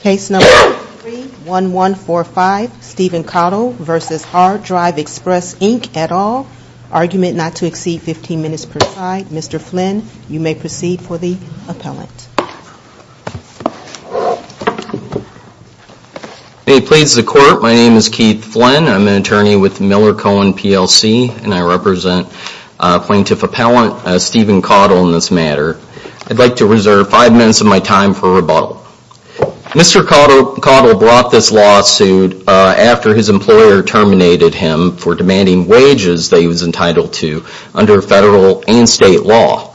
Case number 31145, Stephen Caudle v. Hard Drive Express Inc, et al. Argument not to exceed 15 minutes per side. Mr. Flynn, you may proceed for the appellant. May it please the Court, my name is Keith Flynn. I'm an attorney with Miller Cohen PLC, and I represent plaintiff appellant Stephen Caudle in this matter. I'd like to reserve five minutes of my time for rebuttal. Mr. Caudle brought this lawsuit after his employer terminated him for demanding wages that he was entitled to under federal and state law.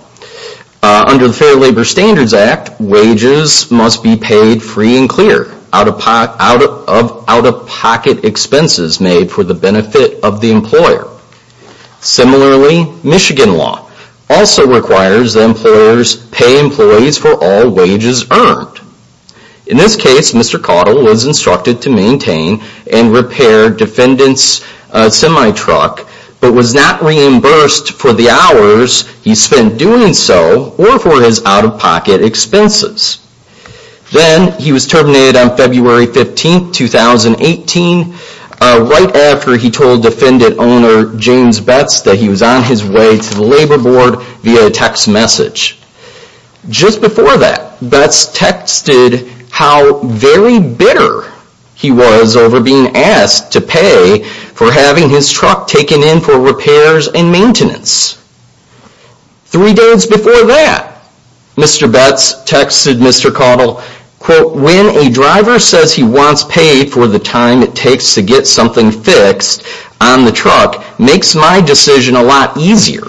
Under the Fair Labor Standards Act, wages must be paid free and clear, out-of-pocket expenses made for the benefit of the employer. Similarly, Michigan law also requires that employers pay employees for all wages earned. In this case, Mr. Caudle was instructed to maintain and repair defendant's semi-truck, but was not reimbursed for the hours he spent doing so or for his out-of-pocket expenses. Then, he was terminated on February 15, 2018, right after he told defendant owner James Betz that he was on his way to the labor board via text message. Just before that, Betz texted how very bitter he was over being asked to pay for having his truck taken in for repairs and maintenance. Three days before that, Mr. Betz texted Mr. Caudle, quote, when a driver says he wants paid for the time it takes to get something fixed on the truck makes my decision a lot easier.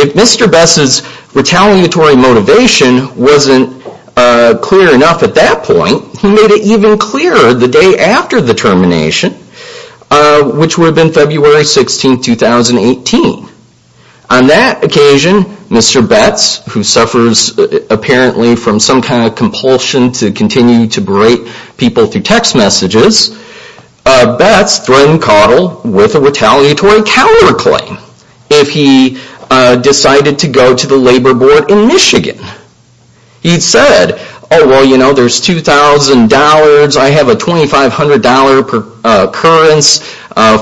If Mr. Betz's retaliatory motivation wasn't clear enough at that point, he made it even clearer the day after the termination, which would have been February 16, 2018. On that occasion, Mr. Betz, who suffers apparently from some kind of compulsion to continue to berate people through text messages, Betz threatened Caudle with a retaliatory counterclaim if he decided to go to the labor board in Michigan. He said, oh, well, you know, there's $2,000, I have a $2,500 per occurrence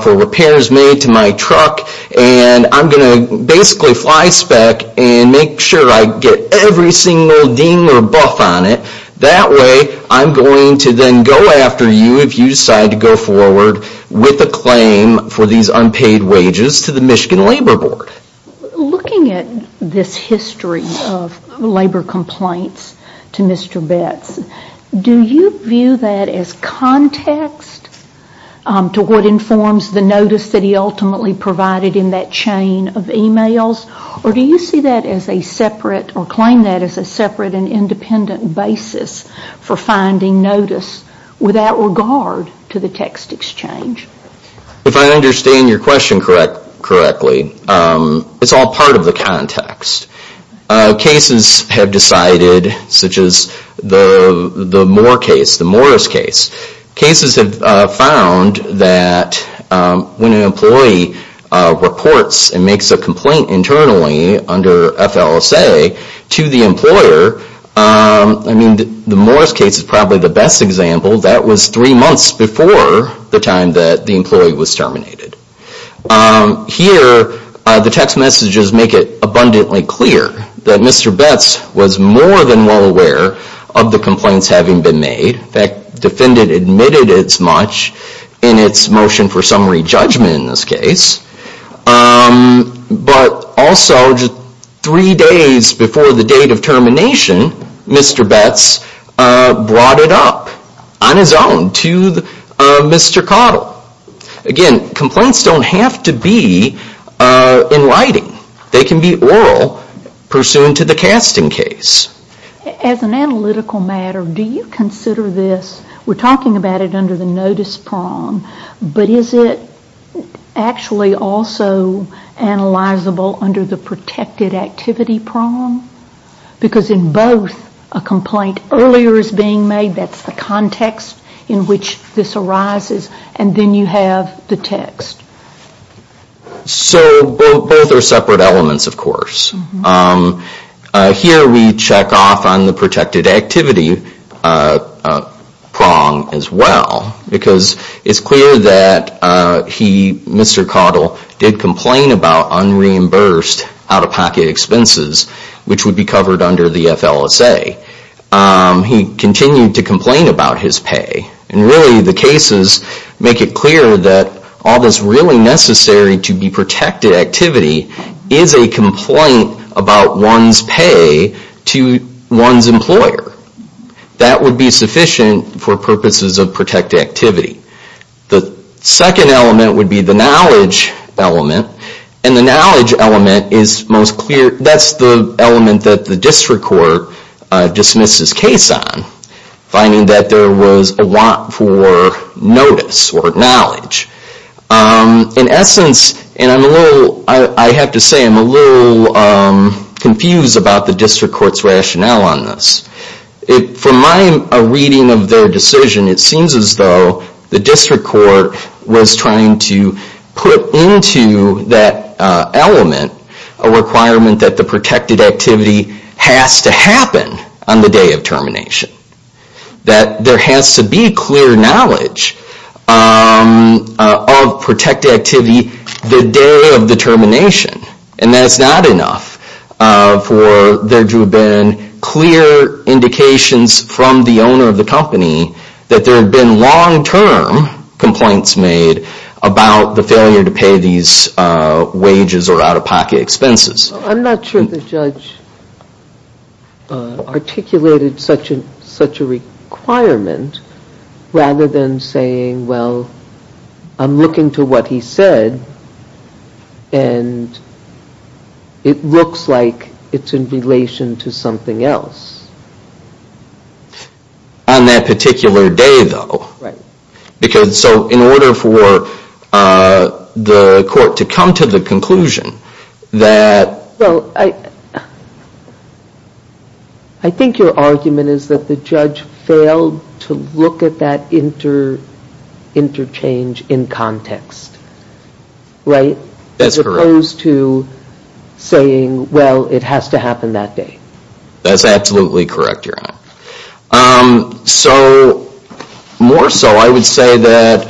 for repairs made to my truck, and I'm going to basically fly spec and make sure I get every single ding or buff on it. That way, I'm going to then go after you if you decide to go forward with a claim for these unpaid wages to the Michigan Labor Board. Looking at this history of labor complaints to Mr. Betz, do you view that as context to what informs the notice that he ultimately provided in that chain of emails, or do you see that as a separate or claim that as a separate and independent basis for finding notice without regard to the text exchange? If I understand your question correctly, it's all part of the context. Cases have decided, such as the Moore case, the Morris case. Cases have found that when an employee reports and makes a complaint internally under FLSA to the employer, I mean, the Morris case is probably the best example. That was three months before the time that the employee was terminated. Here, the text messages make it abundantly clear that Mr. Betz was more than well aware of the complaints having been made. In fact, the defendant admitted as much in its motion for summary judgment in this case. But also, three days before the date of termination, Mr. Betz brought it up on his own to Mr. Cottle. Again, complaints don't have to be in writing. They can be oral pursuant to the casting case. As an analytical matter, do you consider this, we're talking about it under the notice prong, but is it actually also analyzable under the protected activity prong? Because in both, a complaint earlier is being made, that's the context in which this arises, and then you have the text. So both are separate elements, of course. Here we check off on the protected activity prong as well, because it's clear that Mr. Cottle did complain about unreimbursed out-of-pocket expenses, which would be covered under the FLSA. He continued to complain about his pay, and really the cases make it clear that all that's really necessary to be protected activity is a complaint about one's pay to one's employer. That would be sufficient for purposes of protected activity. The second element would be the knowledge element, and the knowledge element is most clear. That's the element that the district court dismissed his case on, finding that there was a want for notice or knowledge. In essence, and I have to say I'm a little confused about the district court's rationale on this. From my reading of their decision, it seems as though the district court was trying to put into that element a requirement that the protected activity has to happen on the day of termination. That there has to be clear knowledge of protected activity the day of the termination, and that's not enough for there to have been clear indications from the owner of the company that there have been long-term complaints made about the failure to pay these wages or out-of-pocket expenses. I'm not sure the judge articulated such a requirement rather than saying, well, I'm looking to what he said and it looks like it's in relation to something else. On that particular day, though. Right. In order for the court to come to the conclusion that- Well, I think your argument is that the judge failed to look at that interchange in context. Right? That's correct. As opposed to saying, well, it has to happen that day. That's absolutely correct, Your Honor. So more so, I would say that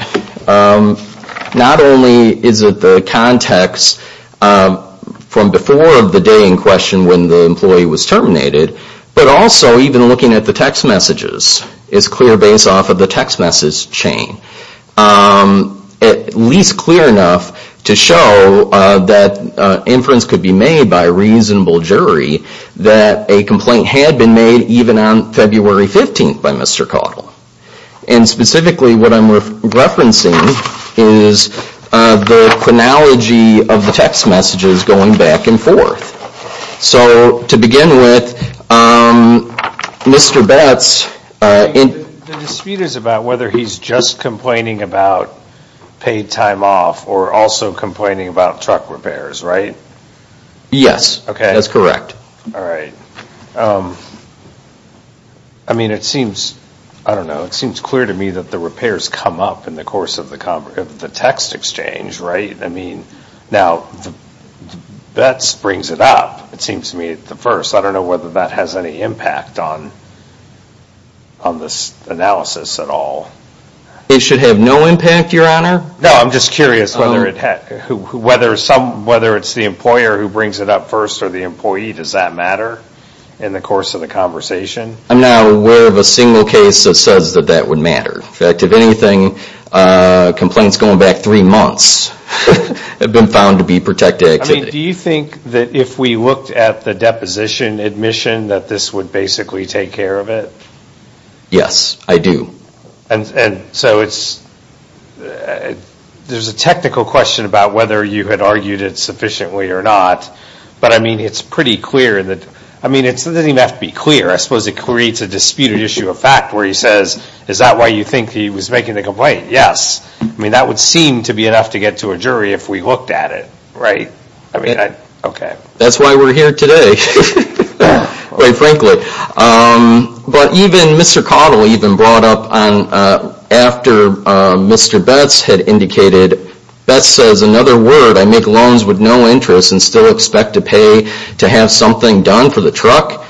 not only is it the context from before of the day in question when the employee was terminated, but also even looking at the text messages is clear based off of the text message chain. At least clear enough to show that inference could be made by a reasonable jury that a complaint had been made even on February 15th by Mr. Cottle. And specifically what I'm referencing is the chronology of the text messages going back and forth. So to begin with, Mr. Betz- The dispute is about whether he's just complaining about paid time off or also complaining about truck repairs, right? Yes. That's correct. All right. I mean, it seems- I don't know. It seems clear to me that the repairs come up in the course of the text exchange, right? I mean, now, Betz brings it up, it seems to me, at first. I don't know whether that has any impact on this analysis at all. It should have no impact, Your Honor. No, I'm just curious whether it's the employer who brings it up first or the employee. Does that matter in the course of the conversation? I'm not aware of a single case that says that that would matter. In fact, if anything, complaints going back three months have been found to be protected activity. Do you think that if we looked at the deposition admission that this would basically take care of it? Yes, I do. And so it's- there's a technical question about whether you had argued it sufficiently or not. But, I mean, it's pretty clear that- I mean, it doesn't even have to be clear. I suppose it creates a disputed issue of fact where he says, is that why you think he was making the complaint? Yes. I mean, that would seem to be enough to get to a jury if we looked at it, right? I mean, okay. That's why we're here today, quite frankly. But even Mr. Cottle even brought up after Mr. Betts had indicated- Betts says, in other words, I make loans with no interest and still expect to pay to have something done for the truck.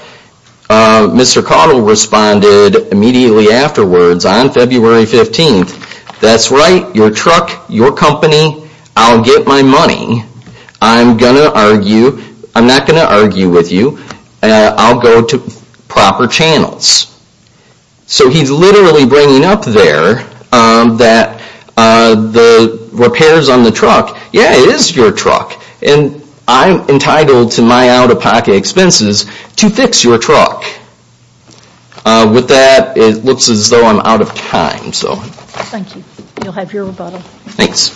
Mr. Cottle responded immediately afterwards on February 15th, that's right, your truck, your company, I'll get my money. I'm going to argue- I'm not going to argue with you. I'll go to proper channels. So he's literally bringing up there that the repairs on the truck, yeah, it is your truck, and I'm entitled to my out-of-pocket expenses to fix your truck. With that, it looks as though I'm out of time. Thank you. You'll have your rebuttal. Thanks.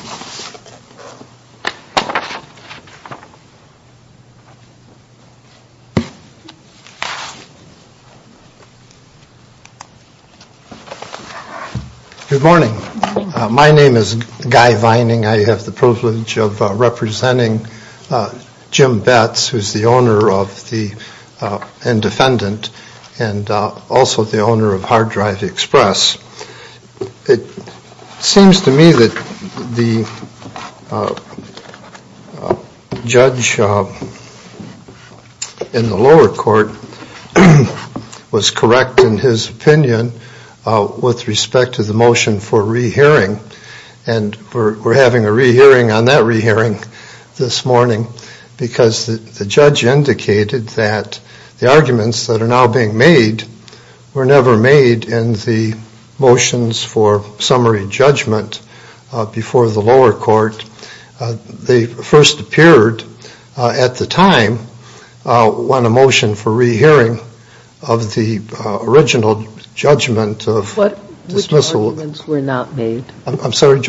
Good morning. My name is Guy Vining. I have the privilege of representing Jim Betts, who is the owner and defendant, and also the owner of Hard Drive Express. It seems to me that the judge in the lower court was correct in his opinion with respect to the motion for re-hearing, and we're having a re-hearing on that re-hearing this morning because the judge indicated that the arguments that are now being made were never made in the motions for summary judgment before the lower court. They first appeared at the time when a motion for re-hearing of the original judgment of dismissal- Which arguments were not made? I'm sorry?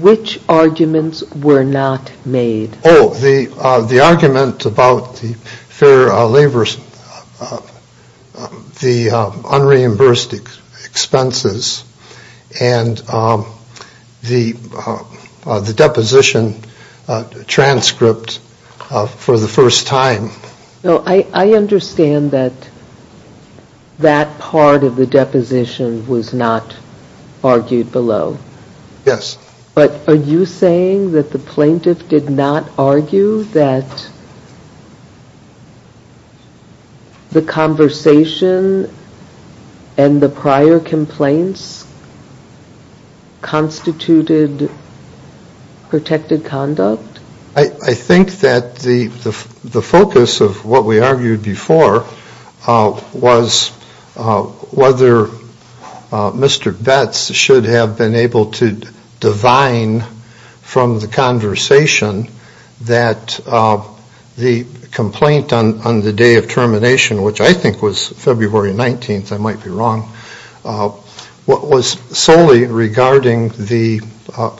Which arguments were not made? Oh, the argument about the unreimbursed expenses and the deposition transcript for the first time. I understand that that part of the deposition was not argued below. Yes. But are you saying that the plaintiff did not argue that the conversation and the prior complaints constituted protected conduct? I think that the focus of what we argued before was whether Mr. Betz should have been able to divine from the conversation that the complaint on the day of termination, which I think was February 19th, I might be wrong, was solely regarding the- Well,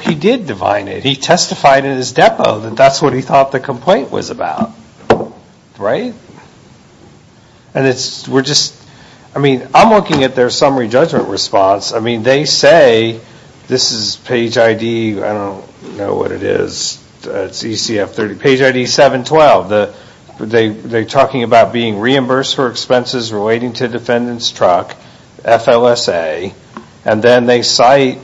he did divine it. He testified in his depo that that's what he thought the complaint was about. And we're just- I mean, I'm looking at their summary judgment response. I mean, they say- This is page ID- I don't know what it is. It's ECF 30- Page ID 712. They're talking about being reimbursed for expenses relating to defendant's truck, FLSA. And then they cite-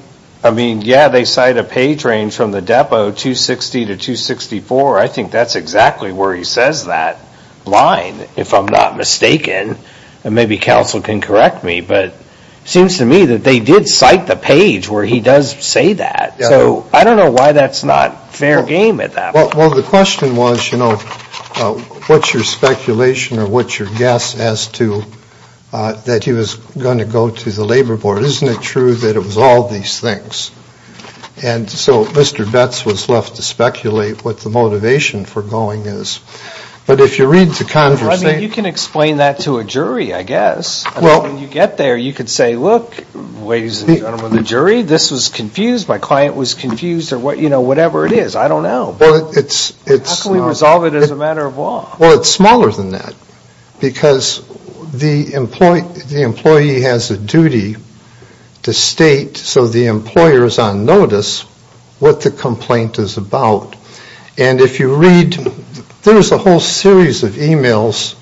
Yeah, they cite a page range from the depo, 260 to 264. I think that's exactly where he says that line, if I'm not mistaken. And maybe counsel can correct me. But it seems to me that they did cite the page where he does say that. So I don't know why that's not fair game at that point. Well, the question was, you know, what's your speculation or what's your guess as to that he was going to go to the Labor Board? Isn't it true that it was all these things? And so Mr. Betz was left to speculate what the motivation for going is. But if you read the conversation- Well, I mean, you can explain that to a jury, I guess. I mean, when you get there, you could say, look, ladies and gentlemen of the jury, this was confused, my client was confused, or, you know, whatever it is. I don't know. But it's- How can we resolve it as a matter of law? Well, it's smaller than that because the employee has a duty to state, so the employer is on notice, what the complaint is about. And if you read- There's a whole series of e-mails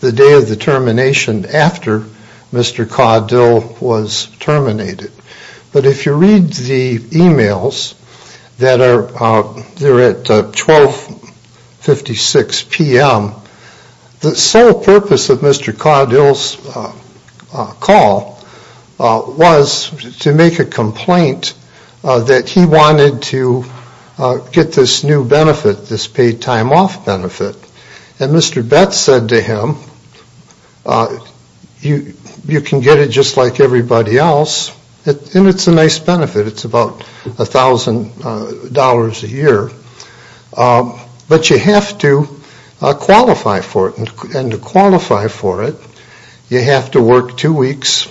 the day of the termination after Mr. Caudill was terminated. But if you read the e-mails that are- They're at 12.56 p.m. The sole purpose of Mr. Caudill's call was to make a complaint that he wanted to get this new benefit, this paid time off benefit. And Mr. Betts said to him, you can get it just like everybody else, and it's a nice benefit, it's about $1,000 a year, but you have to qualify for it. And to qualify for it, you have to work two weeks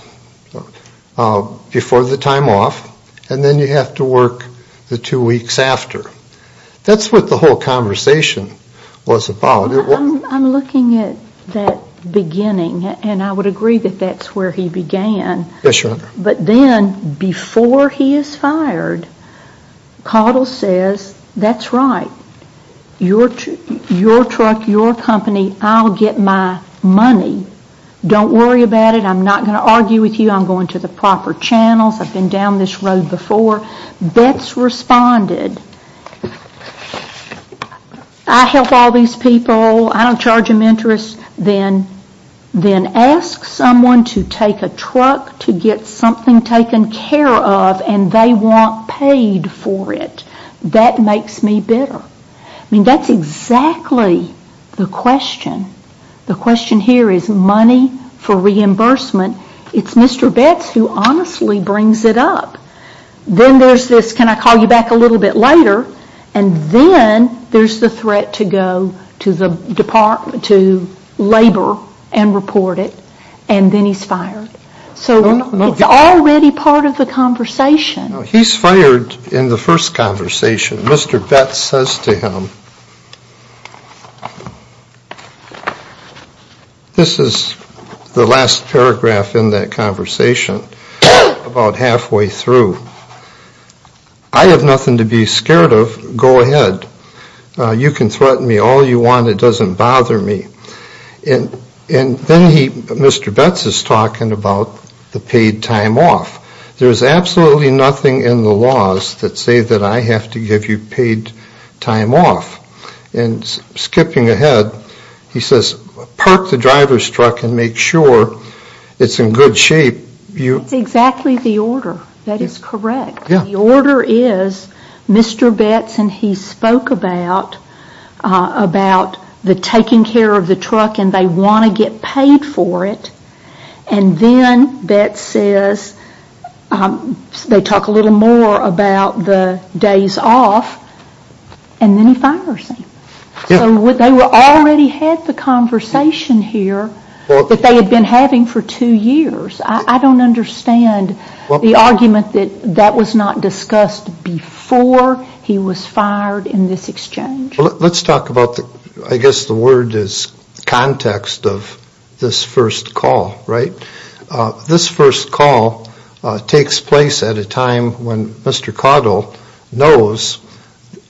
before the time off, and then you have to work the two weeks after. That's what the whole conversation was about. I'm looking at that beginning, and I would agree that that's where he began. Yes, Your Honor. But then, before he is fired, Caudill says, that's right. Your truck, your company, I'll get my money. Don't worry about it. I'm not going to argue with you. I'm going to the proper channels. I've been down this road before. Betts responded, I help all these people. I don't charge them interest. Then ask someone to take a truck to get something taken care of, and they want paid for it. That makes me bitter. I mean, that's exactly the question. The question here is money for reimbursement. It's Mr. Betts who honestly brings it up. Then there's this, can I call you back a little bit later, and then there's the threat to go to labor and report it, and then he's fired. So it's already part of the conversation. He's fired in the first conversation. Mr. Betts says to him, this is the last paragraph in that conversation, about halfway through. I have nothing to be scared of. Go ahead. You can threaten me all you want. It doesn't bother me. And then Mr. Betts is talking about the paid time off. There's absolutely nothing in the laws that say that I have to give you paid time off. Skipping ahead, he says park the driver's truck and make sure it's in good shape. That's exactly the order. That is correct. The order is Mr. Betts, and he spoke about the taking care of the truck, and they want to get paid for it. And then Betts says, they talk a little more about the days off, and then he fires him. So they already had the conversation here that they had been having for two years. I don't understand the argument that that was not discussed before he was fired in this exchange. Let's talk about, I guess the word is context of this first call, right? This first call takes place at a time when Mr. Caudill knows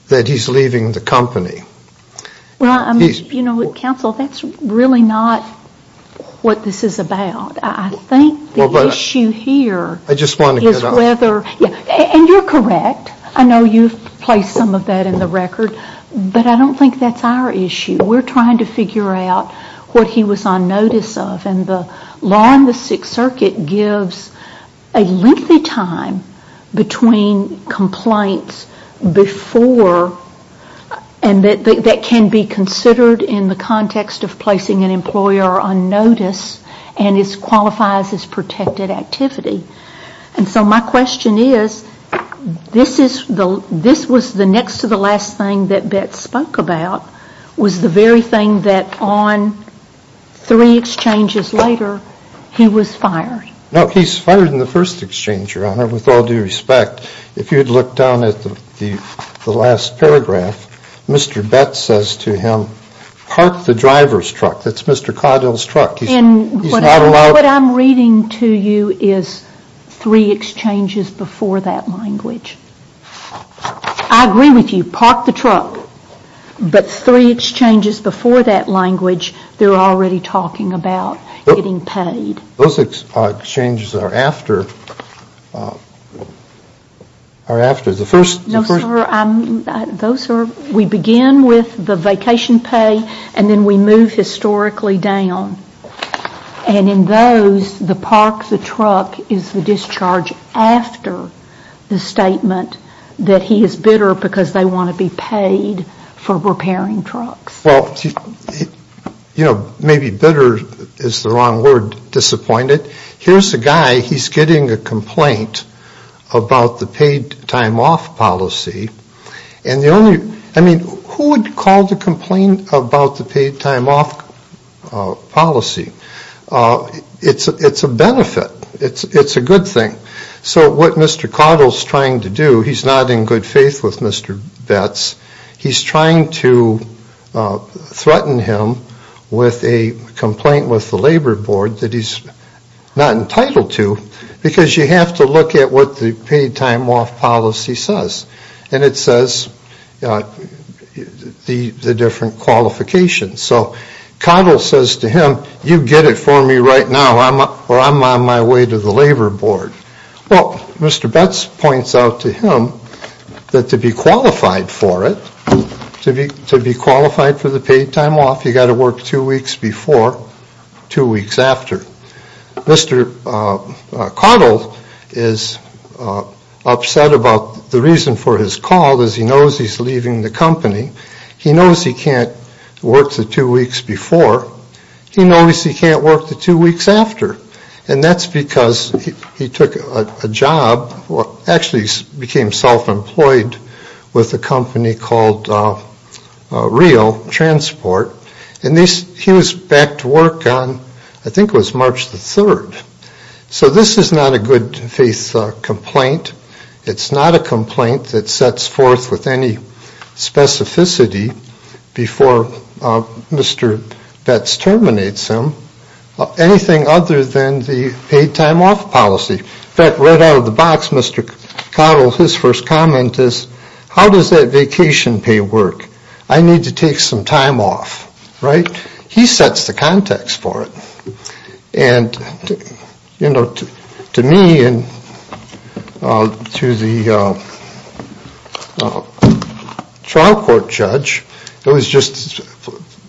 that he's leaving the company. Well, you know, counsel, that's really not what this is about. I think the issue here is whether, and you're correct, I know you've placed some of that in the record, but I don't think that's our issue. We're trying to figure out what he was on notice of, and the law in the Sixth Circuit gives a lengthy time between complaints before, and that can be considered in the context of placing an employer on notice, and it qualifies as protected activity. And so my question is, this was the next to the last thing that Betts spoke about, was the very thing that on three exchanges later, he was fired. No, he's fired in the first exchange, Your Honor, with all due respect. If you'd look down at the last paragraph, Mr. Betts says to him, park the driver's truck, that's Mr. Caudill's truck. And what I'm reading to you is three exchanges before that language. I agree with you, park the truck, but three exchanges before that language, they're already talking about getting paid. Those exchanges are after the first. No, sir, we begin with the vacation pay, and then we move historically down. And in those, the park the truck is the discharge after the statement that he is bitter because they want to be paid for repairing trucks. Well, you know, maybe bitter is the wrong word, disappointed. Here's a guy, he's getting a complaint about the paid time off policy. And the only, I mean, who would call the complaint about the paid time off policy? It's a benefit. It's a good thing. So what Mr. Caudill's trying to do, he's not in good faith with Mr. Betts. He's trying to threaten him with a complaint with the Labor Board that he's not entitled to because you have to look at what the paid time off policy says. And it says the different qualifications. So Caudill says to him, you get it for me right now or I'm on my way to the Labor Board. Well, Mr. Betts points out to him that to be qualified for it, to be qualified for the paid time off, you've got to work two weeks before, two weeks after. Mr. Caudill is upset about the reason for his call is he knows he's leaving the company. He knows he can't work the two weeks before. He knows he can't work the two weeks after. And that's because he took a job, actually became self-employed with a company called Rio Transport. And he was back to work on, I think it was March the 3rd. So this is not a good faith complaint. It's not a complaint that sets forth with any specificity before Mr. Betts terminates him. Anything other than the paid time off policy. In fact, right out of the box, Mr. Caudill, his first comment is, how does that vacation pay work? I need to take some time off. Right. He sets the context for it. And to me and to the trial court judge, it was just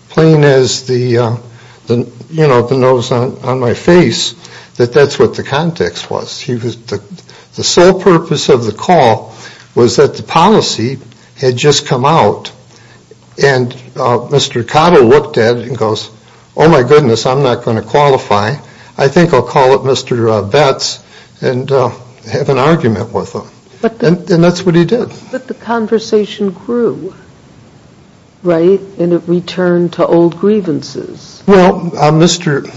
plain as the nose on my face that that's what the context was. The sole purpose of the call was that the policy had just come out. And Mr. Caudill looked at it and goes, oh my goodness, I'm not going to qualify. I think I'll call up Mr. Betts and have an argument with him. And that's what he did. But the conversation grew, right? And it returned to old grievances. Well, Mr.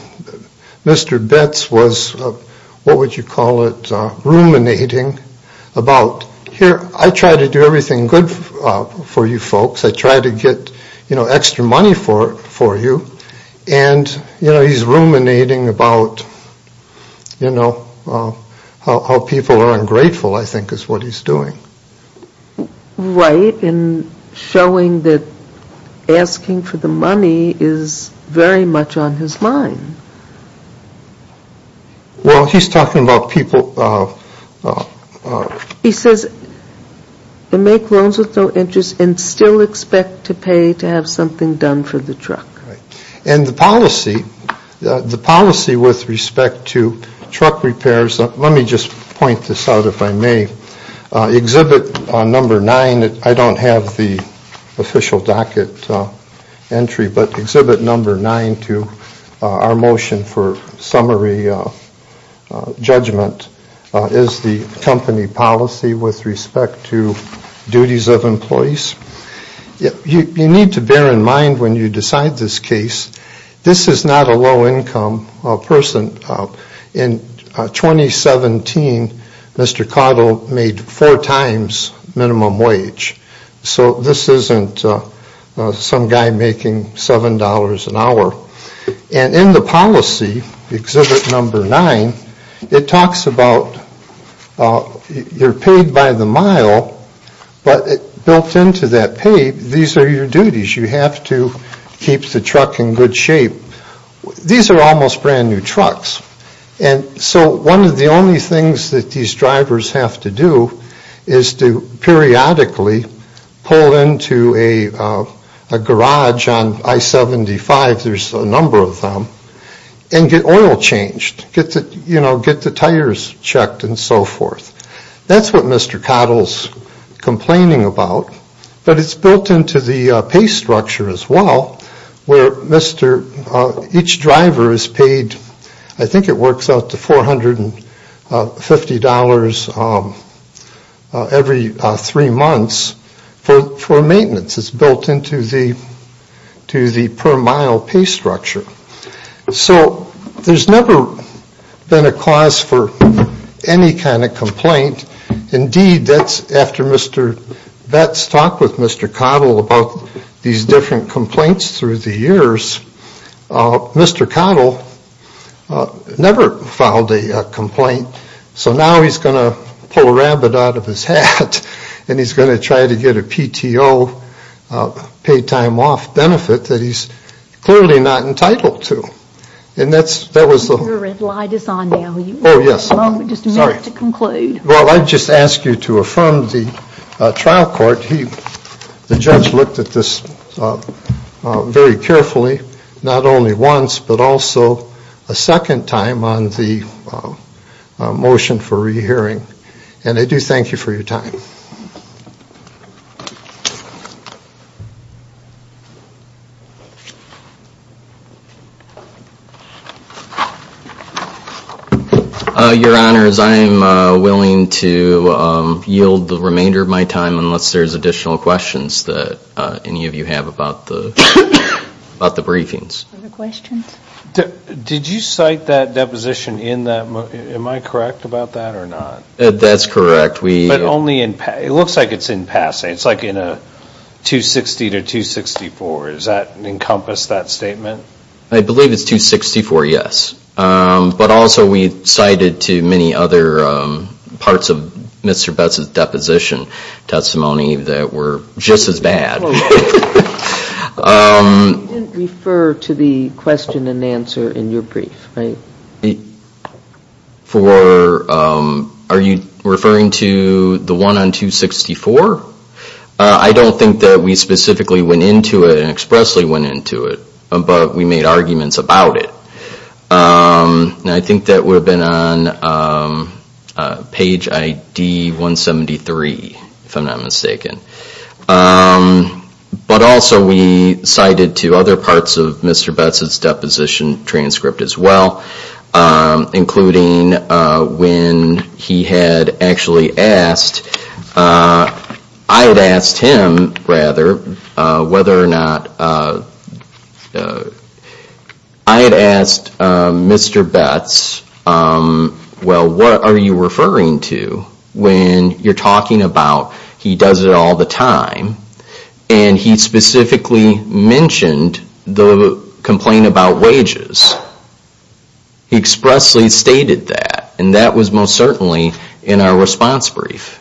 Betts was, what would you call it, ruminating about, here, I try to do everything good for you folks. I try to get extra money for you. And he's ruminating about how people are ungrateful, I think, is what he's doing. Right. And showing that asking for the money is very much on his mind. Well, he's talking about people. He says, make loans with no interest and still expect to pay to have something done for the truck. Right. And the policy with respect to truck repairs, let me just point this out, if I may. Exhibit number nine, I don't have the official docket entry, but exhibit number nine to our motion for summary judgment is the company policy with respect to duties of employees. You need to bear in mind when you decide this case, this is not a low income person. In 2017, Mr. Cottle made four times minimum wage. So this isn't some guy making $7 an hour. And in the policy, exhibit number nine, it talks about you're paid by the mile, but built into that pay, these are your duties. You have to keep the truck in good shape. These are almost brand new trucks. And so one of the only things that these drivers have to do is to periodically pull into a garage on I-75, there's a number of them, and get oil changed, get the tires checked and so forth. That's what Mr. Cottle's complaining about. But it's built into the pay structure as well, where each driver is paid, I think it works out to $450 every three months for maintenance. It's built into the per mile pay structure. So there's never been a cause for any kind of complaint. Indeed, that's after Mr. Vets talked with Mr. Cottle about these different complaints through the years. Mr. Cottle never filed a complaint. So now he's going to pull a rabid out of his hat and he's going to try to get a PTO pay time off benefit that he's clearly not entitled to. Your red light is on now. Oh, yes. Just a minute to conclude. Well, I'd just ask you to affirm the trial court. The judge looked at this very carefully, not only once but also a second time on the motion for rehearing. And I do thank you for your time. Your Honors, I am willing to yield the remainder of my time unless there's additional questions that any of you have about the briefings. Further questions? Did you cite that deposition in that? Am I correct about that or not? That's correct. But only in it looks like it's in passing. It's like in a 260 to 264. Does that encompass that statement? I believe it's 264, yes. But also we cited to many other parts of Mr. Betz's deposition testimony that were just as bad. You didn't refer to the question and answer in your brief, right? Are you referring to the one on 264? I don't think that we specifically went into it and expressly went into it, but we made arguments about it. And I think that would have been on page ID 173, if I'm not mistaken. But also we cited to other parts of Mr. Betz's deposition transcript as well, including when he had actually asked, I had asked him, rather, whether or not, I had asked Mr. Betz, well, what are you referring to? When you're talking about he does it all the time. And he specifically mentioned the complaint about wages. He expressly stated that. And that was most certainly in our response brief.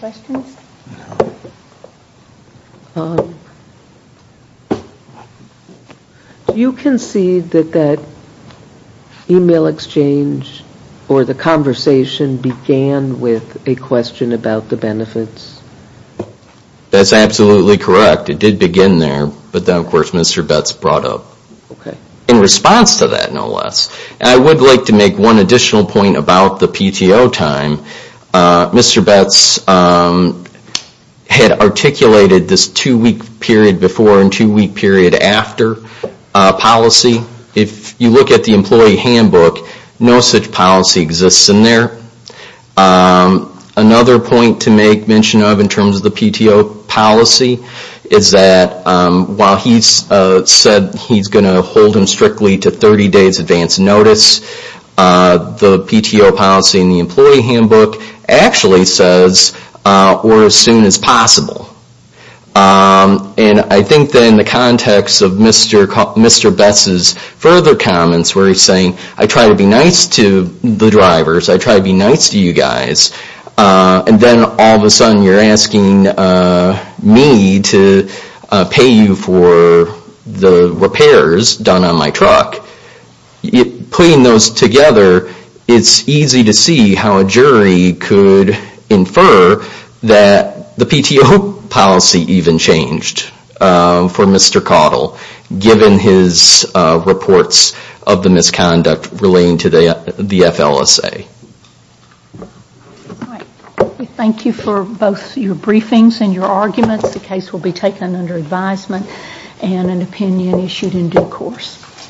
Questions? No. You concede that that email exchange or the conversation began with a question about the benefits? That's absolutely correct. It did begin there, but then, of course, Mr. Betz brought up. Okay. In response to that, no less. I would like to make one additional point about the PTO time. Mr. Betz had articulated this two-week period before and two-week period after policy. If you look at the employee handbook, no such policy exists in there. Another point to make mention of in terms of the PTO policy is that while he said he's going to hold him strictly to 30 days advance notice, the PTO policy in the employee handbook actually says, or as soon as possible. And I think that in the context of Mr. Betz's further comments where he's saying, I try to be nice to the drivers, I try to be nice to you guys, and then all of a sudden you're asking me to pay you for the repairs done on my truck. Putting those together, it's easy to see how a jury could infer that the PTO policy even changed for Mr. Caudill, given his reports of the misconduct relating to the FLSA. All right. We thank you for both your briefings and your arguments. The case will be taken under advisement and an opinion issued in due course.